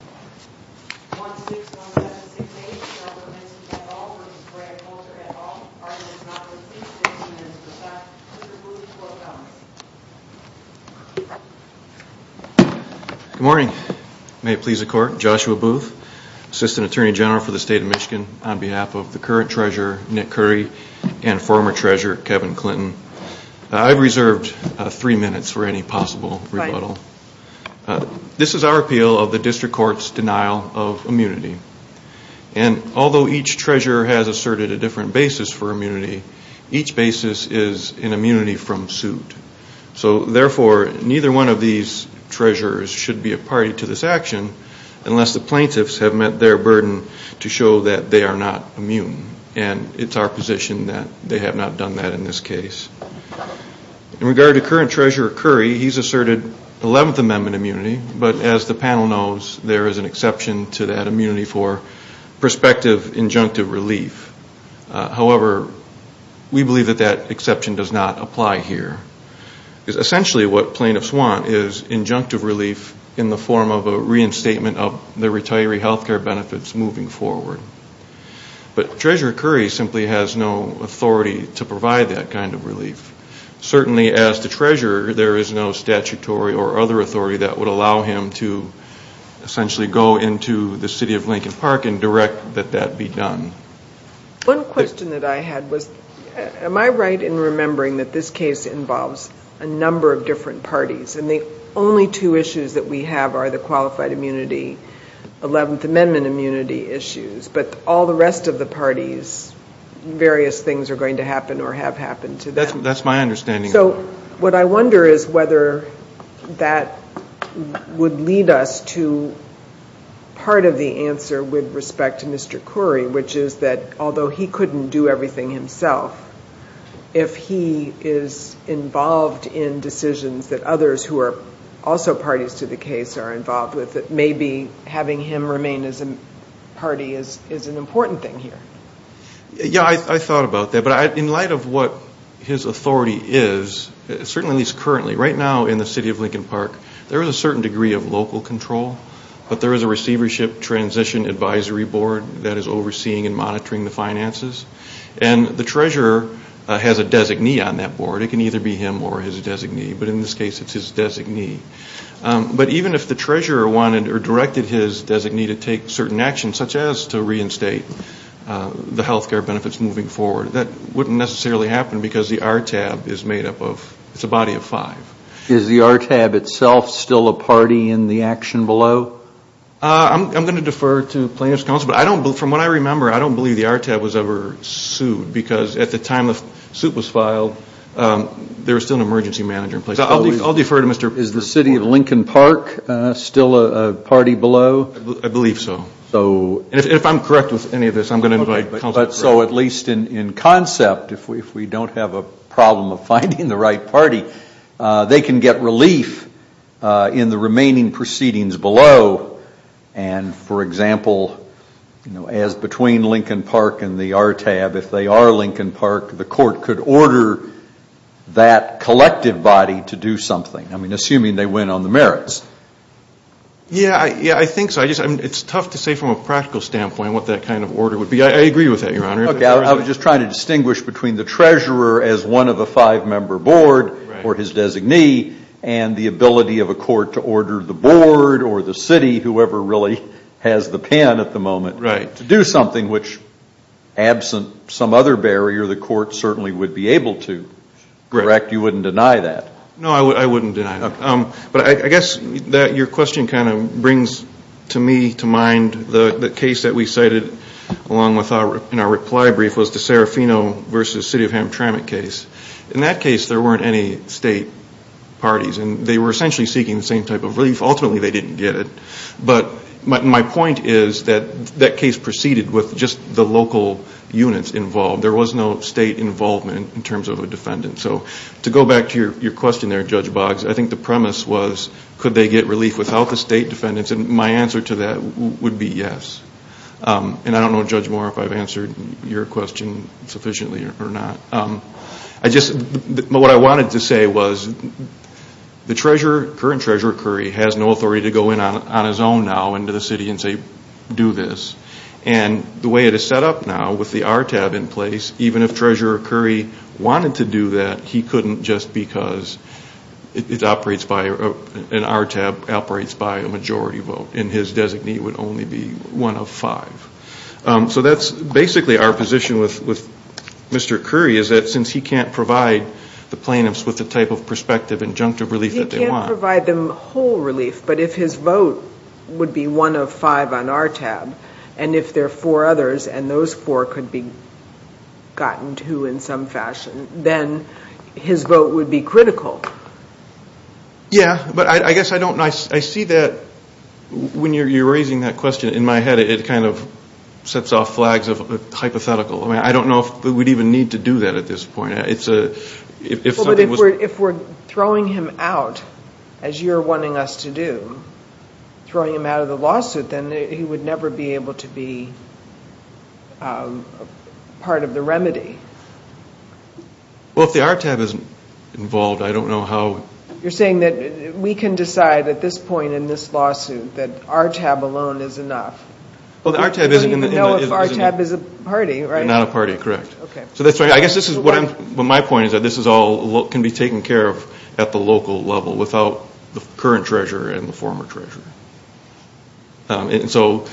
Good morning. May it please the court, Joshua Booth, Assistant Attorney General for the State of Michigan, on behalf of the current Treasurer, Nick Curry, and former Treasurer, Kevin Clinton. I've reserved three minutes for any possible rebuttal. This is our appeal of the District Court's denial of immunity. And although each Treasurer has asserted a different basis for immunity, each basis is an immunity from suit. So therefore, neither one of these Treasurers should be a party to this action unless the plaintiffs have met their burden to show that they are not immune. And it's our position that they have not done that in this case. In regard to current Treasurer Curry, he's asserted 11th Amendment immunity. But as the panel knows, there is an exception to that immunity for prospective injunctive relief. However, we believe that that exception does not apply here. Essentially what plaintiffs want is injunctive relief in the form of a reinstatement of the retiree health care benefits moving forward. But Treasurer Curry simply has no authority to provide that kind of relief. Certainly as the Treasurer, there is no statutory or other authority that would allow him to essentially go into the City of Lincoln Park and direct that that be done. One question that I had was, am I right in remembering that this case involves a number of different parties? And the only two issues that we have are the qualified immunity, 11th Amendment immunity issues. But all the rest of the parties, various things are going to happen or have happened to them. That's my understanding. So what I wonder is whether that would lead us to part of the answer with respect to Mr. Curry, which is that although he couldn't do everything himself, if he is involved in decisions that others who are also parties to the case are involved with, that maybe having him remain as a party is an important thing here. Yeah, I thought about that. But in light of what his authority is, certainly at least currently, right now in the City of Lincoln Park, there is a certain degree of local control. But there is a Receivership Transition Advisory Board that is overseeing and monitoring the finances. And the Treasurer has a designee on that board. It can either be him or his designee. But in this case, it's his designee. But even if the Treasurer wanted or directed his designee to take certain actions, such as to reinstate the health care benefits moving forward, that wouldn't necessarily happen because the RTAB is a body of five. Is the RTAB itself still a party in the action below? I'm going to defer to plaintiff's counsel. But from what I remember, I don't believe the RTAB was ever sued. Because at the time the suit was filed, there was still an emergency manager in place. So I'll defer to Mr. Curry. Is the City of Lincoln Park still a party below? I believe so. And if I'm correct with any of this, I'm going to invite counsel to break. So at least in concept, if we don't have a problem of finding the right party, they can get relief in the remaining proceedings below. And for example, as between Lincoln Park and the RTAB, if they are Lincoln Park, the court could order that collective body to do something. I mean, assuming they win on the merits. Yeah, I think so. It's tough to say from a practical standpoint what that kind of order would be. I agree with that, Your Honor. I was just trying to distinguish between the treasurer as one of a five-member board or his designee and the ability of a court to order the board or the city, whoever really has the pen at the moment, to do something which, absent some other barrier, the court certainly would be able to. Correct? You wouldn't deny that? No, I wouldn't deny that. But I guess that your question kind of brings to me to mind the case that we cited along with our reply brief was the Serafino v. City of Hamtramck case. In that case, there weren't any state parties and they were essentially seeking the same type of relief. Ultimately, they didn't get it. But my point is that that case proceeded with just the local units involved. There was no state involvement in terms of I think the premise was could they get relief without the state defendants? My answer to that would be yes. I don't know, Judge Moore, if I've answered your question sufficiently or not. What I wanted to say was the current Treasurer Curry has no authority to go in on his own now into the city and say, do this. The way it is set up now with the RTAB in place, even if Treasurer Curry wanted to do that, he couldn't just because it operates by an RTAB operates by a majority vote. And his designee would only be one of five. So that's basically our position with Mr. Curry is that since he can't provide the plaintiffs with the type of perspective injunctive relief that they want. He can't provide them whole relief. But if his vote would be one of five on RTAB and if there are four others and those four could be gotten to in some fashion, then his vote would be critical. Yeah. But I guess I don't know. I see that when you're raising that question in my head it kind of sets off flags of hypothetical. I don't know if we'd even need to do that at this point. Well, but if we're throwing him out, as you're wanting us to do, throwing him out of the committee would be part of the remedy. Well, if the RTAB isn't involved, I don't know how... You're saying that we can decide at this point in this lawsuit that RTAB alone is enough. Well, the RTAB isn't... We don't even know if RTAB is a party, right? They're not a party, correct. Okay. So that's why I guess this is what I'm... Well, my point is that this is all can be taken care of at the local level without the current treasurer and the former treasurer. And so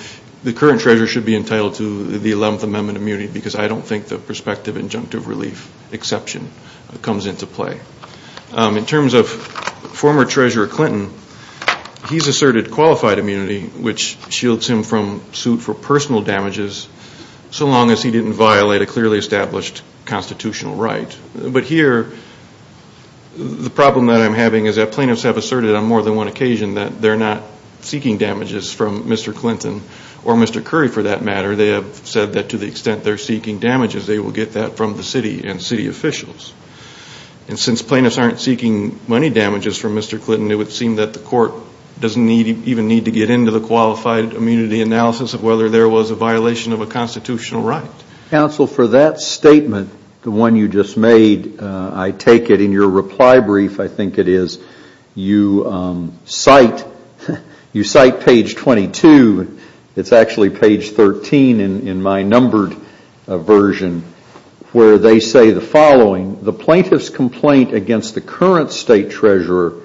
the current treasurer should be entitled to the 11th Amendment immunity because I don't think the prospective injunctive relief exception comes into play. In terms of former treasurer Clinton, he's asserted qualified immunity which shields him from suit for personal damages so long as he didn't violate a clearly established constitutional right. But here, the problem that I'm having is that plaintiffs have asserted on more than one occasion that they're not seeking damages from Mr. Clinton or Mr. Curry for that matter. They have said that to the extent they're seeking damages, they will get that from the city and city officials. And since plaintiffs aren't seeking money damages from Mr. Clinton, it would seem that the court doesn't even need to get into the qualified immunity analysis of whether there was a violation of a constitutional right. Counsel, for that statement, the one you just made, I take it in your reply brief, I think you cite page 22, it's actually page 13 in my numbered version, where they say the following, the plaintiff's complaint against the current state treasurer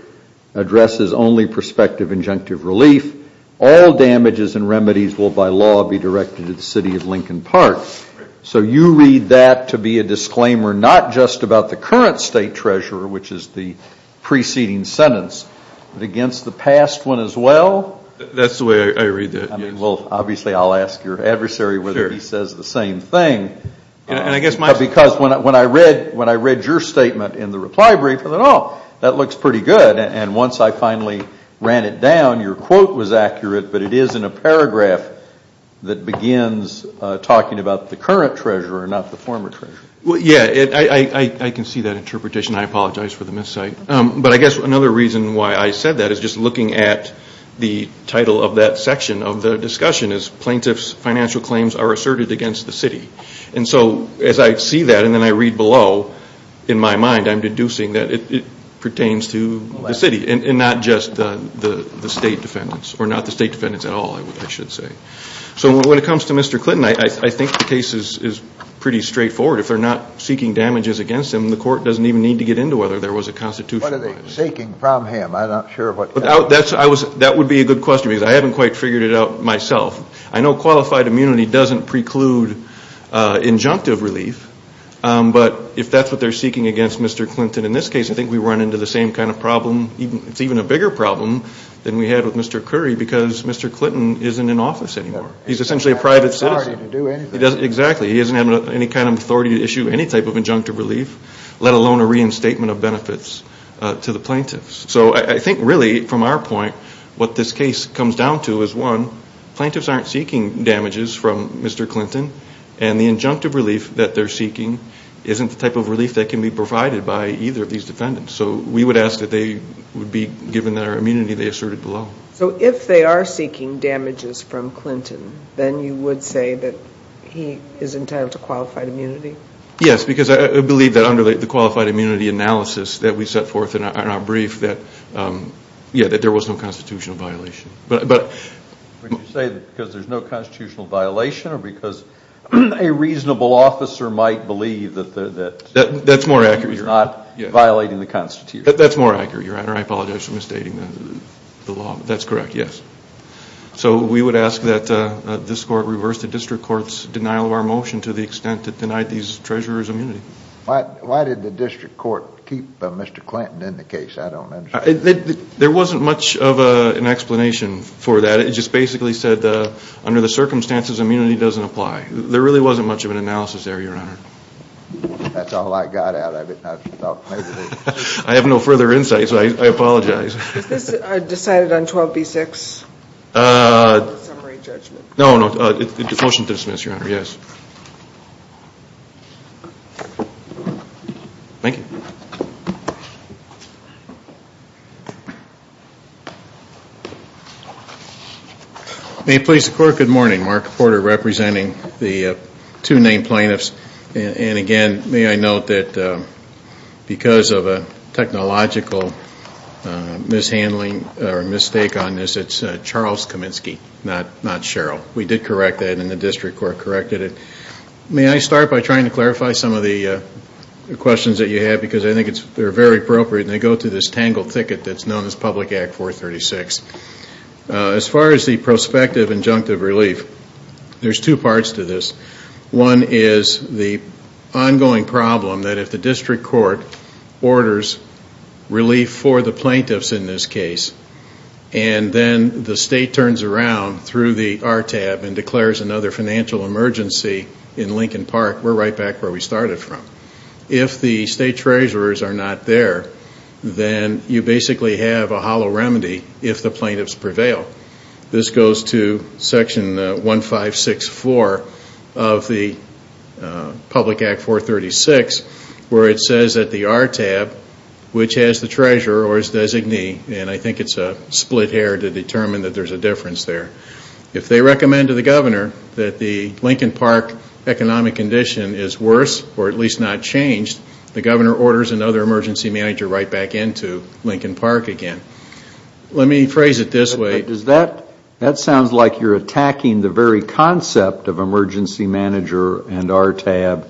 addresses only prospective injunctive relief. All damages and remedies will by law be directed to the city of Lincoln Park. So you read that to be a disclaimer not just about the current state treasurer, which is the preceding sentence, but against the past one as well? That's the way I read that, yes. I mean, well, obviously, I'll ask your adversary whether he says the same thing. And I guess my... Because when I read your statement in the reply brief, I thought, oh, that looks pretty good. And once I finally ran it down, your quote was accurate, but it is in a paragraph that begins talking about the current treasurer, not the former treasurer. Well, yeah, I can see that interpretation. I apologize for the miscite. But I guess another reason why I said that is just looking at the title of that section of the discussion is plaintiff's financial claims are asserted against the city. And so as I see that and then I read below, in my mind, I'm deducing that it pertains to the city and not just the state defendants or not the state defendants at all, I should say. So when it comes to Mr. Clinton, I think the case is pretty straightforward. If they're not seeking damages against him, the court doesn't even need to get into whether there was a constitutional... What are they seeking from him? I'm not sure what... That would be a good question because I haven't quite figured it out myself. I know qualified immunity doesn't preclude injunctive relief, but if that's what they're seeking against Mr. Clinton in this case, I think we run into the same kind of problem. It's even a bigger problem than we had with Mr. Curry because Mr. Clinton isn't in office anymore. He's essentially a private citizen. He doesn't have any authority to do anything. He can't issue any type of injunctive relief, let alone a reinstatement of benefits to the plaintiffs. So I think really, from our point, what this case comes down to is one, plaintiffs aren't seeking damages from Mr. Clinton and the injunctive relief that they're seeking isn't the type of relief that can be provided by either of these defendants. So we would ask that they would be given their immunity they asserted below. So if they are seeking damages from Clinton, then you would say that he is entitled to Yes, because I believe that under the qualified immunity analysis that we set forth in our brief that there was no constitutional violation. Would you say because there's no constitutional violation or because a reasonable officer might believe that you're not violating the Constitution? That's more accurate, Your Honor. I apologize for misstating the law. That's correct, yes. So we would ask that this court reverse the district court's denial of our motion to the immunity. Why did the district court keep Mr. Clinton in the case? I don't understand. There wasn't much of an explanation for that. It just basically said under the circumstances immunity doesn't apply. There really wasn't much of an analysis there, Your Honor. That's all I got out of it. I have no further insight, so I apologize. Is this decided on 12B-6? No, no. It's a motion to dismiss, Your Honor, yes. Thank you. May it please the Court, good morning. Mark Porter representing the two named plaintiffs. Again, may I note that because of a technological mishandling or mistake on this, it's Charles Kaminsky, not Cheryl. We did correct that and the district court corrected it. May I start by trying to clarify some of the questions that you have because I think they're very appropriate and they go to this tangled ticket that's known as Public Act 436. As far as the prospective injunctive relief, there's two parts to this. One is the ongoing problem that if the district court orders relief for the plaintiffs in this case and then the Lincoln Park, we're right back where we started from. If the state treasurers are not there, then you basically have a hollow remedy if the plaintiffs prevail. This goes to section 1564 of the Public Act 436 where it says that the RTAB, which has the treasurer or his designee, and I think it's a split hair to determine that there's a difference there. If they recommend to the governor that the Lincoln Park economic condition is worse or at least not changed, the governor orders another emergency manager right back into Lincoln Park again. Let me phrase it this way. That sounds like you're attacking the very concept of emergency manager and RTAB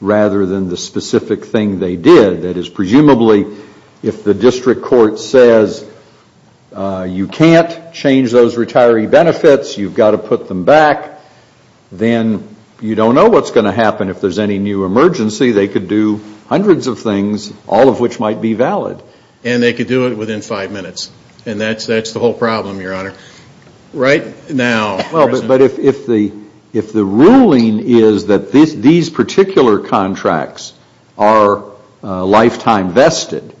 rather than the specific thing they did. That is presumably if the district court says you can't change those retiree benefits, you've got to put them back, then you don't know what's going to happen if there's any new emergency. They could do hundreds of things, all of which might be valid. And they could do it within five minutes. And that's the whole problem, your honor. Right now. But if the ruling is that these particular contracts are lifetime vested,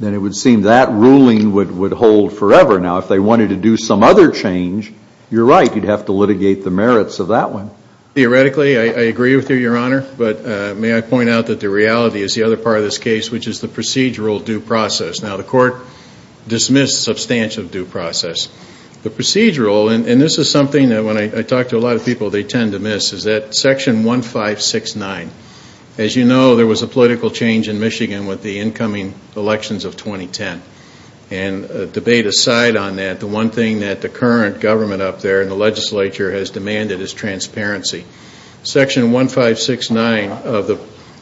then it would seem that ruling would hold forever. Now, if they wanted to do some other change, you're right, you'd have to litigate the merits of that one. Theoretically, I agree with you, your honor. But may I point out that the reality is the other part of this case, which is the procedural due process. Now, the court dismissed substantial due process. The procedural, and this is something that when I talk to a lot of people, they tend to miss, is that section 1569. As you know, there was a political change in Michigan with the incoming elections of 2010. And a debate aside on that, the one thing that the current government up there and the legislature has demanded is transparency. Section 1569 of the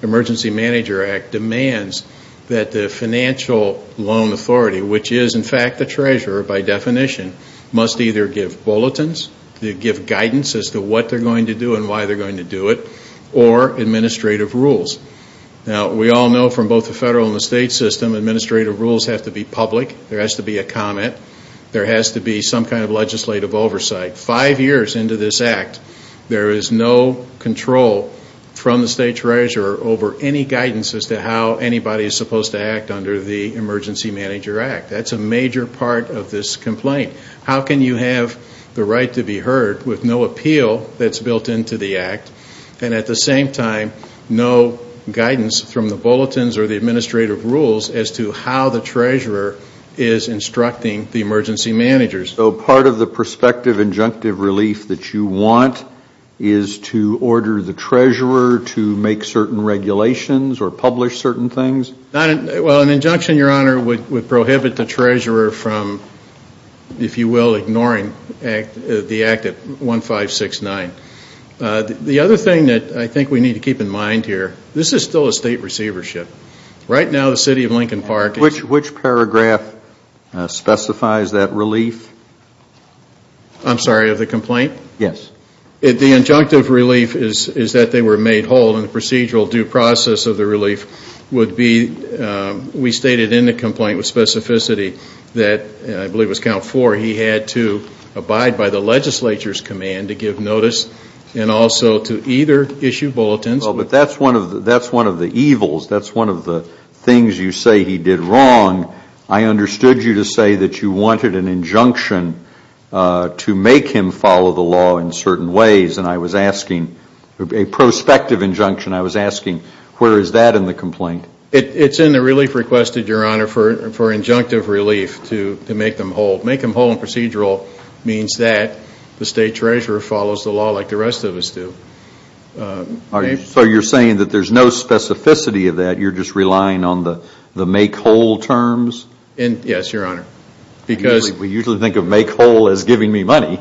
Emergency Manager Act demands that the financial loan authority, which is in fact the treasurer by definition, must either give bulletins, give guidance as to what they're going to do and why they're going to do it, or administrative rules. Now, we all know from both the federal and the state system, administrative rules have to be public. There has to be a comment. There has to be some kind of legislative oversight. Five years into this act, there is no control from the state treasurer over any guidance as to how anybody is supposed to act under the Emergency Manager Act. That's a major part of this complaint. How can you have the right to be heard with no appeal that's built into the act, and at the same time, no guidance from the bulletins or the administrative rules as to how the treasurer is instructing the emergency managers? So part of the prospective injunctive relief that you want is to order the treasurer to make certain regulations or publish certain things? Well, an injunction, your honor, would prohibit the treasurer from, if you will, ignoring the act at 1569. The other thing that I think we need to keep in mind here, this is still a state receivership. Right now, the city of Lincoln Park... Which paragraph specifies that relief? I'm sorry, of the complaint? Yes. The injunctive relief is that they were made whole, and the procedural due process of the relief would be, we stated in the complaint with specificity that, I believe it was count four, he had to abide by the legislature's command to give notice and also to either issue bulletins... Well, but that's one of the evils. That's one of the things you say he did wrong. I understood you to say that you wanted an injunction to make him follow the law in certain ways, and I was asking, a prospective injunction, I was asking where is that in the complaint? It's in the relief requested, your honor, for injunctive relief to make them whole. Make them whole and procedural means that the state treasurer follows the law like the rest of us do. So you're saying that there's no specificity of that, you're just relying on the make whole terms? Yes, your honor, because... We usually think of make whole as giving me money.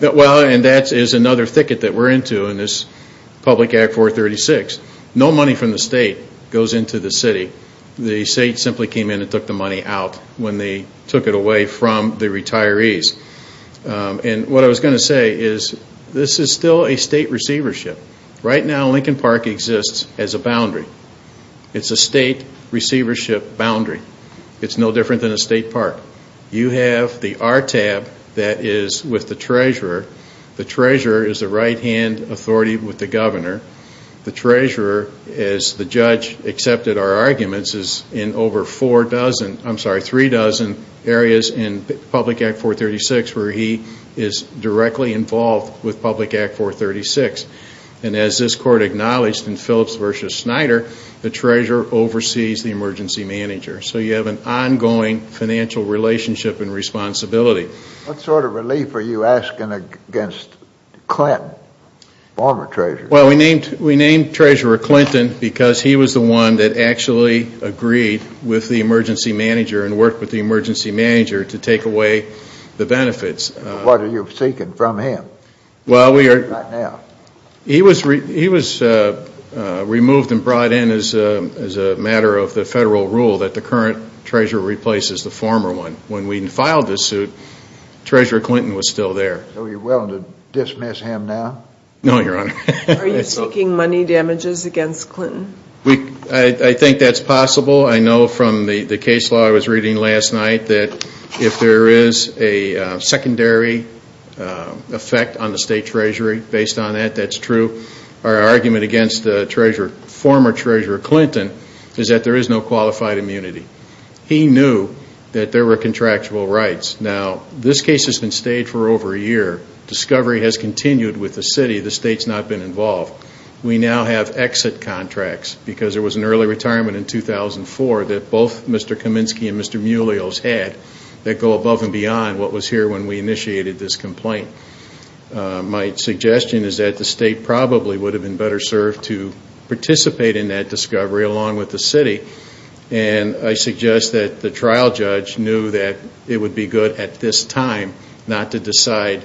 Well, and that is another thicket that we're into in this Public Act 436. No money from the state goes into the city. The state simply came in and took the money out when they took it away from the retirees. And what I was going to say is, this is still a state receivership. Right now, Lincoln Park exists as a boundary. It's a state receivership boundary. It's no different than a state park. You have the RTAB that is with the treasurer. The treasurer is the right-hand authority with the governor. The treasurer, as the judge accepted our arguments, is in over three dozen areas in Public Act 436 where he is directly involved with Public Act 436. And as this court acknowledged in Phillips v. Snyder, the treasurer oversees the emergency manager. So you have an ongoing financial relationship and responsibility. What sort of relief are you asking against Clinton, former treasurer? Well, we named treasurer Clinton because he was the one that actually agreed with the emergency manager and worked with the emergency manager to take away the benefits. What are you seeking from him right now? Well, he was removed and brought in as a matter of the federal rule that the current treasurer replaces the former one. When we filed this suit, treasurer Clinton was still there. So you're willing to dismiss him now? No, your honor. Are you seeking money damages against Clinton? I think that's possible. I know from the case law I was reading last night that if there is a secondary effect on the state treasury, based on that, that's true. Our argument against former treasurer Clinton is that there is no qualified immunity. He knew that there were contractual rights. Now, this case has been stayed for over a year. Discovery has continued with the city. The state has not been involved. We now have exit contracts because there was an early retirement in 2004 that both Mr. Kaminsky and Mr. Muleos had that go above and beyond what was here when we initiated this complaint. My suggestion is that the state probably would have been better served to participate in that discovery along with the city. And I suggest that the trial judge knew that it would be good at this time not to decide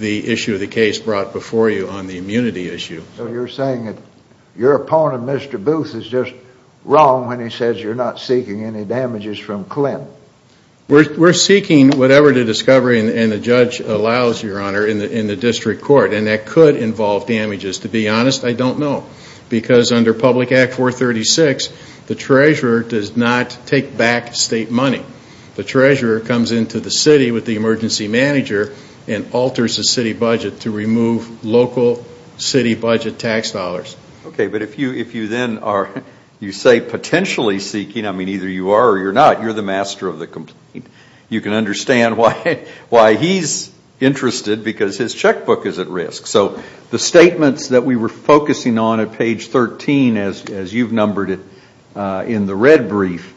the issue of the case brought before you on the immunity issue. So you're saying that your opponent, Mr. Booth, is just wrong when he says you're not seeking any damages from Clinton? We're seeking whatever the discovery and the judge allows, Your Honor, in the district court, and that could involve damages. To be honest, I don't know. Because under Public Act 436, the treasurer does not take back state money. The treasurer comes into the city with the emergency manager and alters the city budget to remove local city budget tax dollars. Okay, but if you then are, you say potentially seeking, I mean, either you are or you're not, you're the master of the complaint, you can understand why he's interested because his checkbook is at risk. So the statements that we were focusing on at page 13, as you've numbered it in the red brief,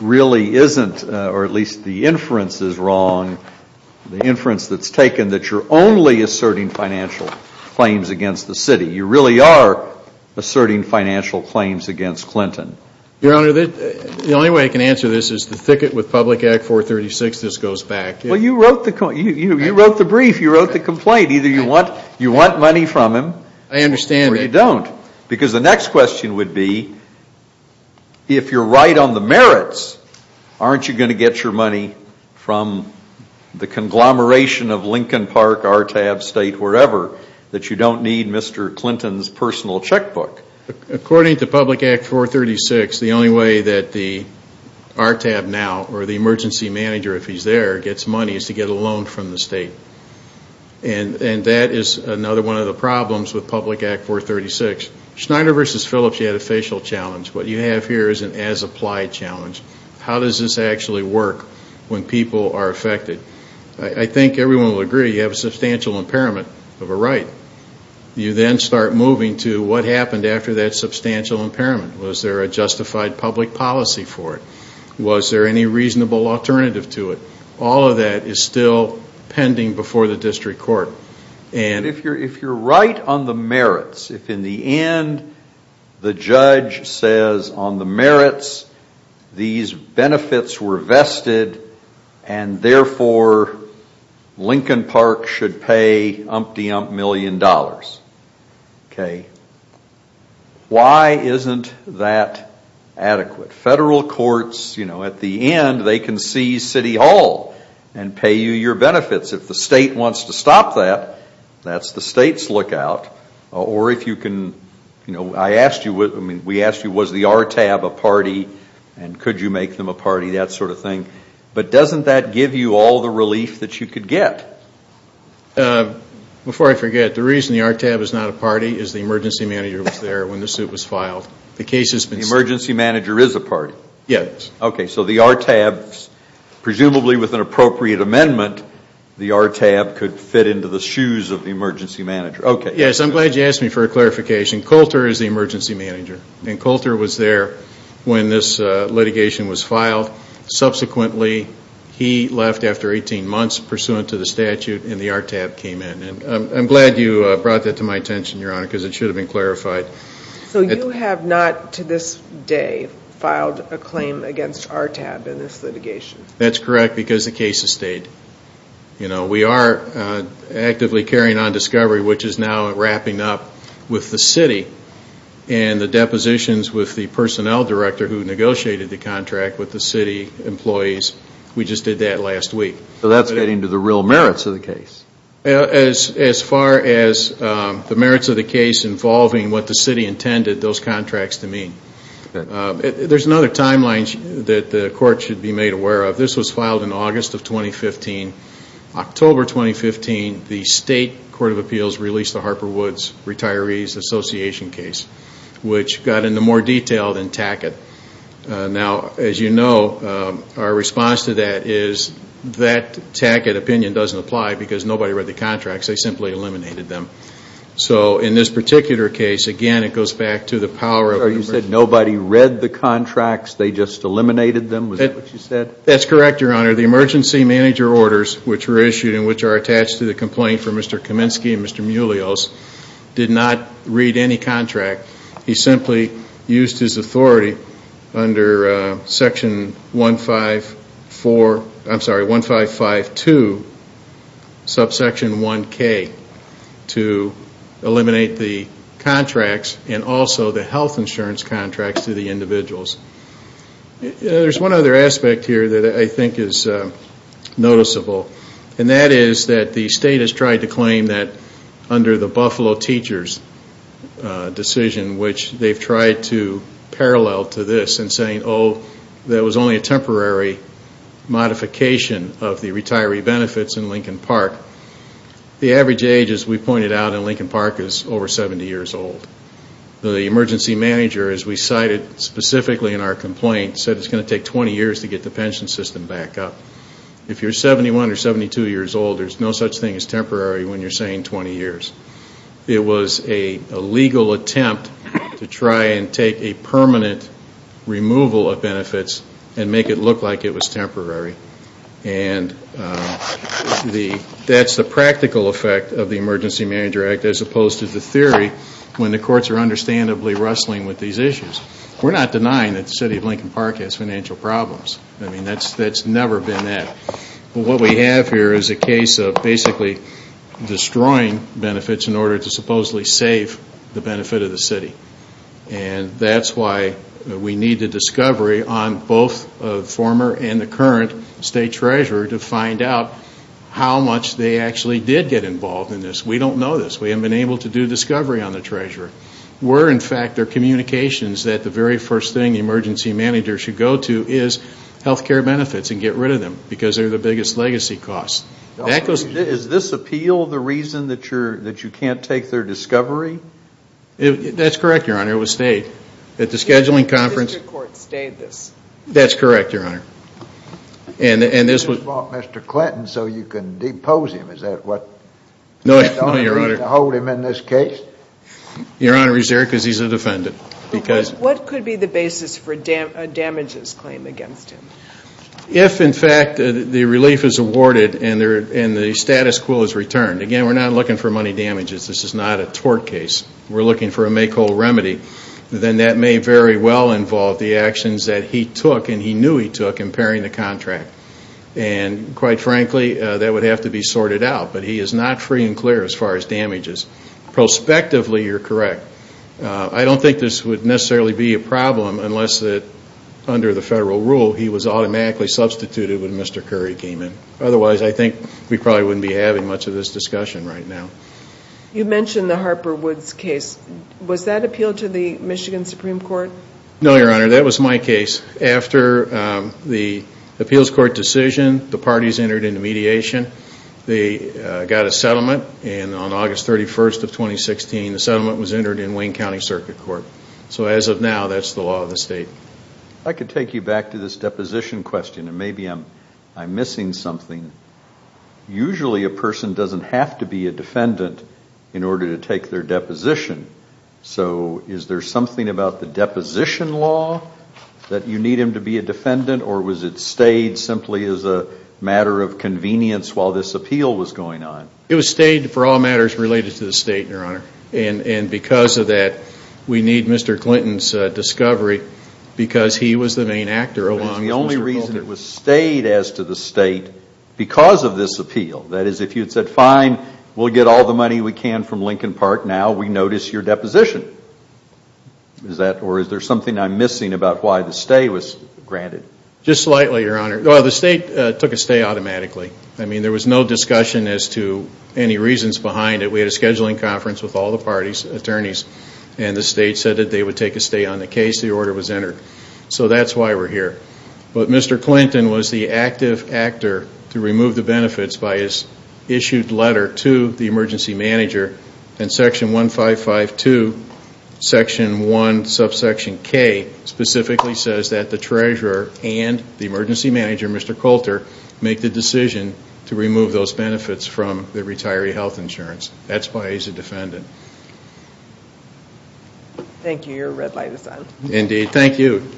really isn't, or at least the inference is wrong, the inference that's taken that you're only asserting financial claims against the city. You really are asserting financial against Clinton. Your Honor, the only way I can answer this is the thicket with Public Act 436, this goes back. Well, you wrote the brief, you wrote the complaint. Either you want money from him or you don't. Because the next question would be, if you're right on the merits, aren't you going to get your money from the conglomeration of Lincoln Park, RTAB, State, wherever, that you don't need Mr. Clinton's personal checkbook? According to Public Act 436, the only way that the RTAB now, or the emergency manager if he's there, gets money is to get a loan from the state. And that is another one of the problems with Public Act 436. Schneider v. Phillips, you had a facial challenge. What you have here is an as-applied challenge. How does this actually work when people are affected? I think everyone will agree, you have a substantial impairment of a right. You then start moving to what happened after that substantial impairment. Was there a justified public policy for it? Was there any reasonable alternative to it? All of that is still pending before the district court. And if you're right on the merits, if in the end, the judge says on the merits, these benefits were vested, and therefore, Lincoln Park should pay umpty ump million dollars. Why isn't that adequate? Federal courts, at the end, they can seize City Hall and pay you your benefits. If the state wants to stop that, that's the state's lookout. Or if you can, I asked you, we asked you, was the RTAB a party and could you make them a party, that sort of thing? But doesn't that give you all the relief that you could get? Before I forget, the reason the RTAB is not a party is the emergency manager was there when the suit was filed. The case has been sued. The emergency manager is a party? Yes. Okay, so the RTAB, presumably with an appropriate amendment, the RTAB could fit into the shoes of the emergency manager. Okay. Yes, I'm glad you asked me for a clarification. Coulter is the subsequently, he left after 18 months pursuant to the statute and the RTAB came in. I'm glad you brought that to my attention, Your Honor, because it should have been clarified. So you have not, to this day, filed a claim against RTAB in this litigation? That's correct because the case has stayed. We are actively carrying on discovery, which is now wrapping up with the city and the employees. We just did that last week. So that's getting to the real merits of the case? As far as the merits of the case involving what the city intended those contracts to mean. There's another timeline that the Court should be made aware of. This was filed in August of 2015. October 2015, the State Court of Appeals released the Harper Woods Retirees Association case, which got into more detail than Tackett. Now, as you know, our response to that is that Tackett opinion doesn't apply because nobody read the contracts. They simply eliminated them. So in this particular case, again, it goes back to the power of... You said nobody read the contracts. They just eliminated them. Was that what you said? That's correct, Your Honor. The emergency manager orders which were issued and which are attached to the complaint from Mr. He simply used his authority under section 1552, subsection 1K, to eliminate the contracts and also the health insurance contracts to the individuals. There's one other aspect here that I think is noticeable, and that is that the State has tried to claim that under the Buffalo Teachers decision, which they've tried to parallel to this in saying, oh, that was only a temporary modification of the retiree benefits in Lincoln Park. The average age, as we pointed out, in Lincoln Park is over 70 years old. The emergency manager, as we cited specifically in our complaint, said it's going to take 20 years to get the pension system back up. If you're 71 or 72 years old, there's no such thing as temporary when you're saying 20 years. It was a legal attempt to try and take a permanent removal of benefits and make it look like it was temporary. And that's the practical effect of the Emergency Manager Act as opposed to the theory when the courts are understandably wrestling with these issues. We're not denying that the City of Lincoln basically destroying benefits in order to supposedly save the benefit of the City. And that's why we need the discovery on both the former and the current State Treasurer to find out how much they actually did get involved in this. We don't know this. We haven't been able to do discovery on the Treasurer. We're, in fact, their communications that the very first thing the Emergency Manager should go to is health care benefits and get rid of them because they're biggest legacy costs. Is this appeal the reason that you can't take their discovery? That's correct, Your Honor. It was stayed at the scheduling conference. The District Court stayed this? That's correct, Your Honor. And this was... You bought Mr. Clinton so you can depose him. Is that what... No, Your Honor. ...you're going to hold him in this case? Your Honor, he's there because he's a defendant because... What could be the basis for a damages claim against him? If, in fact, the relief is awarded and the status quo is returned. Again, we're not looking for money damages. This is not a tort case. We're looking for a make whole remedy. Then that may very well involve the actions that he took and he knew he took in pairing the contract. And, quite frankly, that would have to be sorted out. But he is not free and clear as far as damages. Prospectively, you're correct. I don't think this would necessarily be a problem unless that the federal rule, he was automatically substituted when Mr. Curry came in. Otherwise, I think we probably wouldn't be having much of this discussion right now. You mentioned the Harper Woods case. Was that appealed to the Michigan Supreme Court? No, Your Honor. That was my case. After the appeals court decision, the parties entered into mediation. They got a settlement. And on August 31st of 2016, the settlement was entered in Wayne County Circuit Court. So as of now, that's the law of the state. I could take you back to this deposition question and maybe I'm missing something. Usually, a person doesn't have to be a defendant in order to take their deposition. So is there something about the deposition law that you need him to be a defendant? Or was it stayed simply as a matter of convenience while this appeal was going on? It was stayed for all matters related to the state, Your Honor. And because of that, we need Mr. Clinton's discovery because he was the main actor along with Mr. Colton. But it was the only reason it was stayed as to the state because of this appeal. That is, if you had said, fine, we'll get all the money we can from Lincoln Park now, we notice your deposition. Or is there something I'm missing about why the stay was granted? Just slightly, Your Honor. The state took a stay automatically. I mean, there was no discussion as to any reasons behind it. We had a scheduling conference with all the parties, attorneys, and the state said that they would take a stay on the case. The order was entered. So that's why we're here. But Mr. Clinton was the active actor to remove the benefits by his issued letter to the emergency manager. And section 1552, section 1, subsection K, specifically says that the treasurer and the emergency manager, Mr. Coulter, make the decision to remove those benefits from the retiree health insurance. That's why he's a defendant. Thank you. Your red light is on. Indeed. Thank you.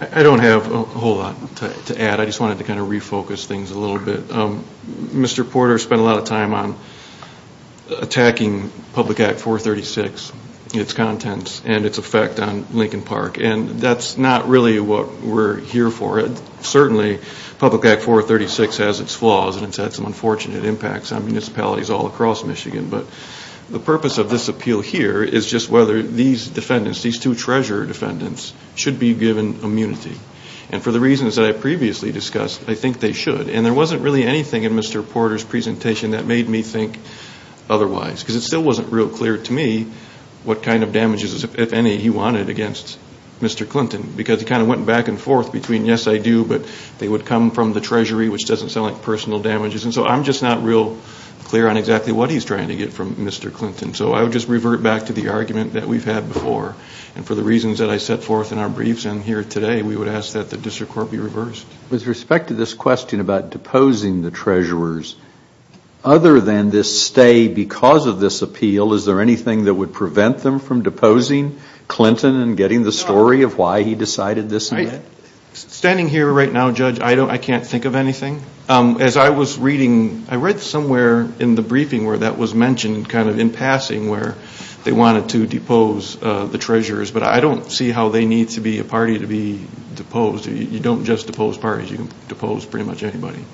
I don't have a whole lot to add. I just wanted to kind of refocus things a little bit. Mr. Porter spent a lot of time on attacking Public Act 436, its contents, and its effect on Lincoln Park. And that's not really what we're here for. Certainly, Public Act 436 has its flaws, and it's had some unfortunate impacts on municipalities all across Michigan. But the purpose of this appeal here is just whether these defendants, these two treasurer defendants, should be given immunity. And for the reasons that I previously discussed, I think they should. And there wasn't really anything in Mr. Porter's presentation that made me think otherwise. Because it still wasn't real clear to me what kind of damages, if any, he wanted against Mr. Clinton. Because he kind of went back and forth between, yes, I do, but they would come from the Treasury, which doesn't sound like personal damages. And so I'm just not real clear on exactly what he's trying to get from Mr. Clinton. So I would just revert back to the argument that we've had before. And for the reasons that I set forth in our briefs and here today, we would ask that the district court be reversed. With respect to this question about deposing the treasurers, other than this stay because of this appeal, is there anything that would prevent them from deposing Clinton and getting the story of why he decided this? Standing here right now, Judge, I don't, I can't think of anything. As I was reading, I read somewhere in the briefing where that was mentioned kind of in passing where they wanted to depose the treasurers. But I don't see how they need to be a party to be deposed. You don't just depose parties. You can depose pretty much anybody.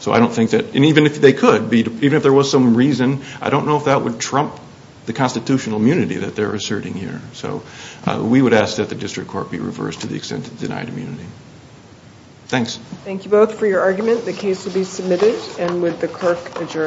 So I don't think that, and even if they could be, even if there was some reason, I don't know if that would trump the constitutional immunity that they're asserting here. So we would ask that the district court be reversed to the extent of denied immunity. Thanks. Thank you both for your argument. The case will be submitted. And with the clerk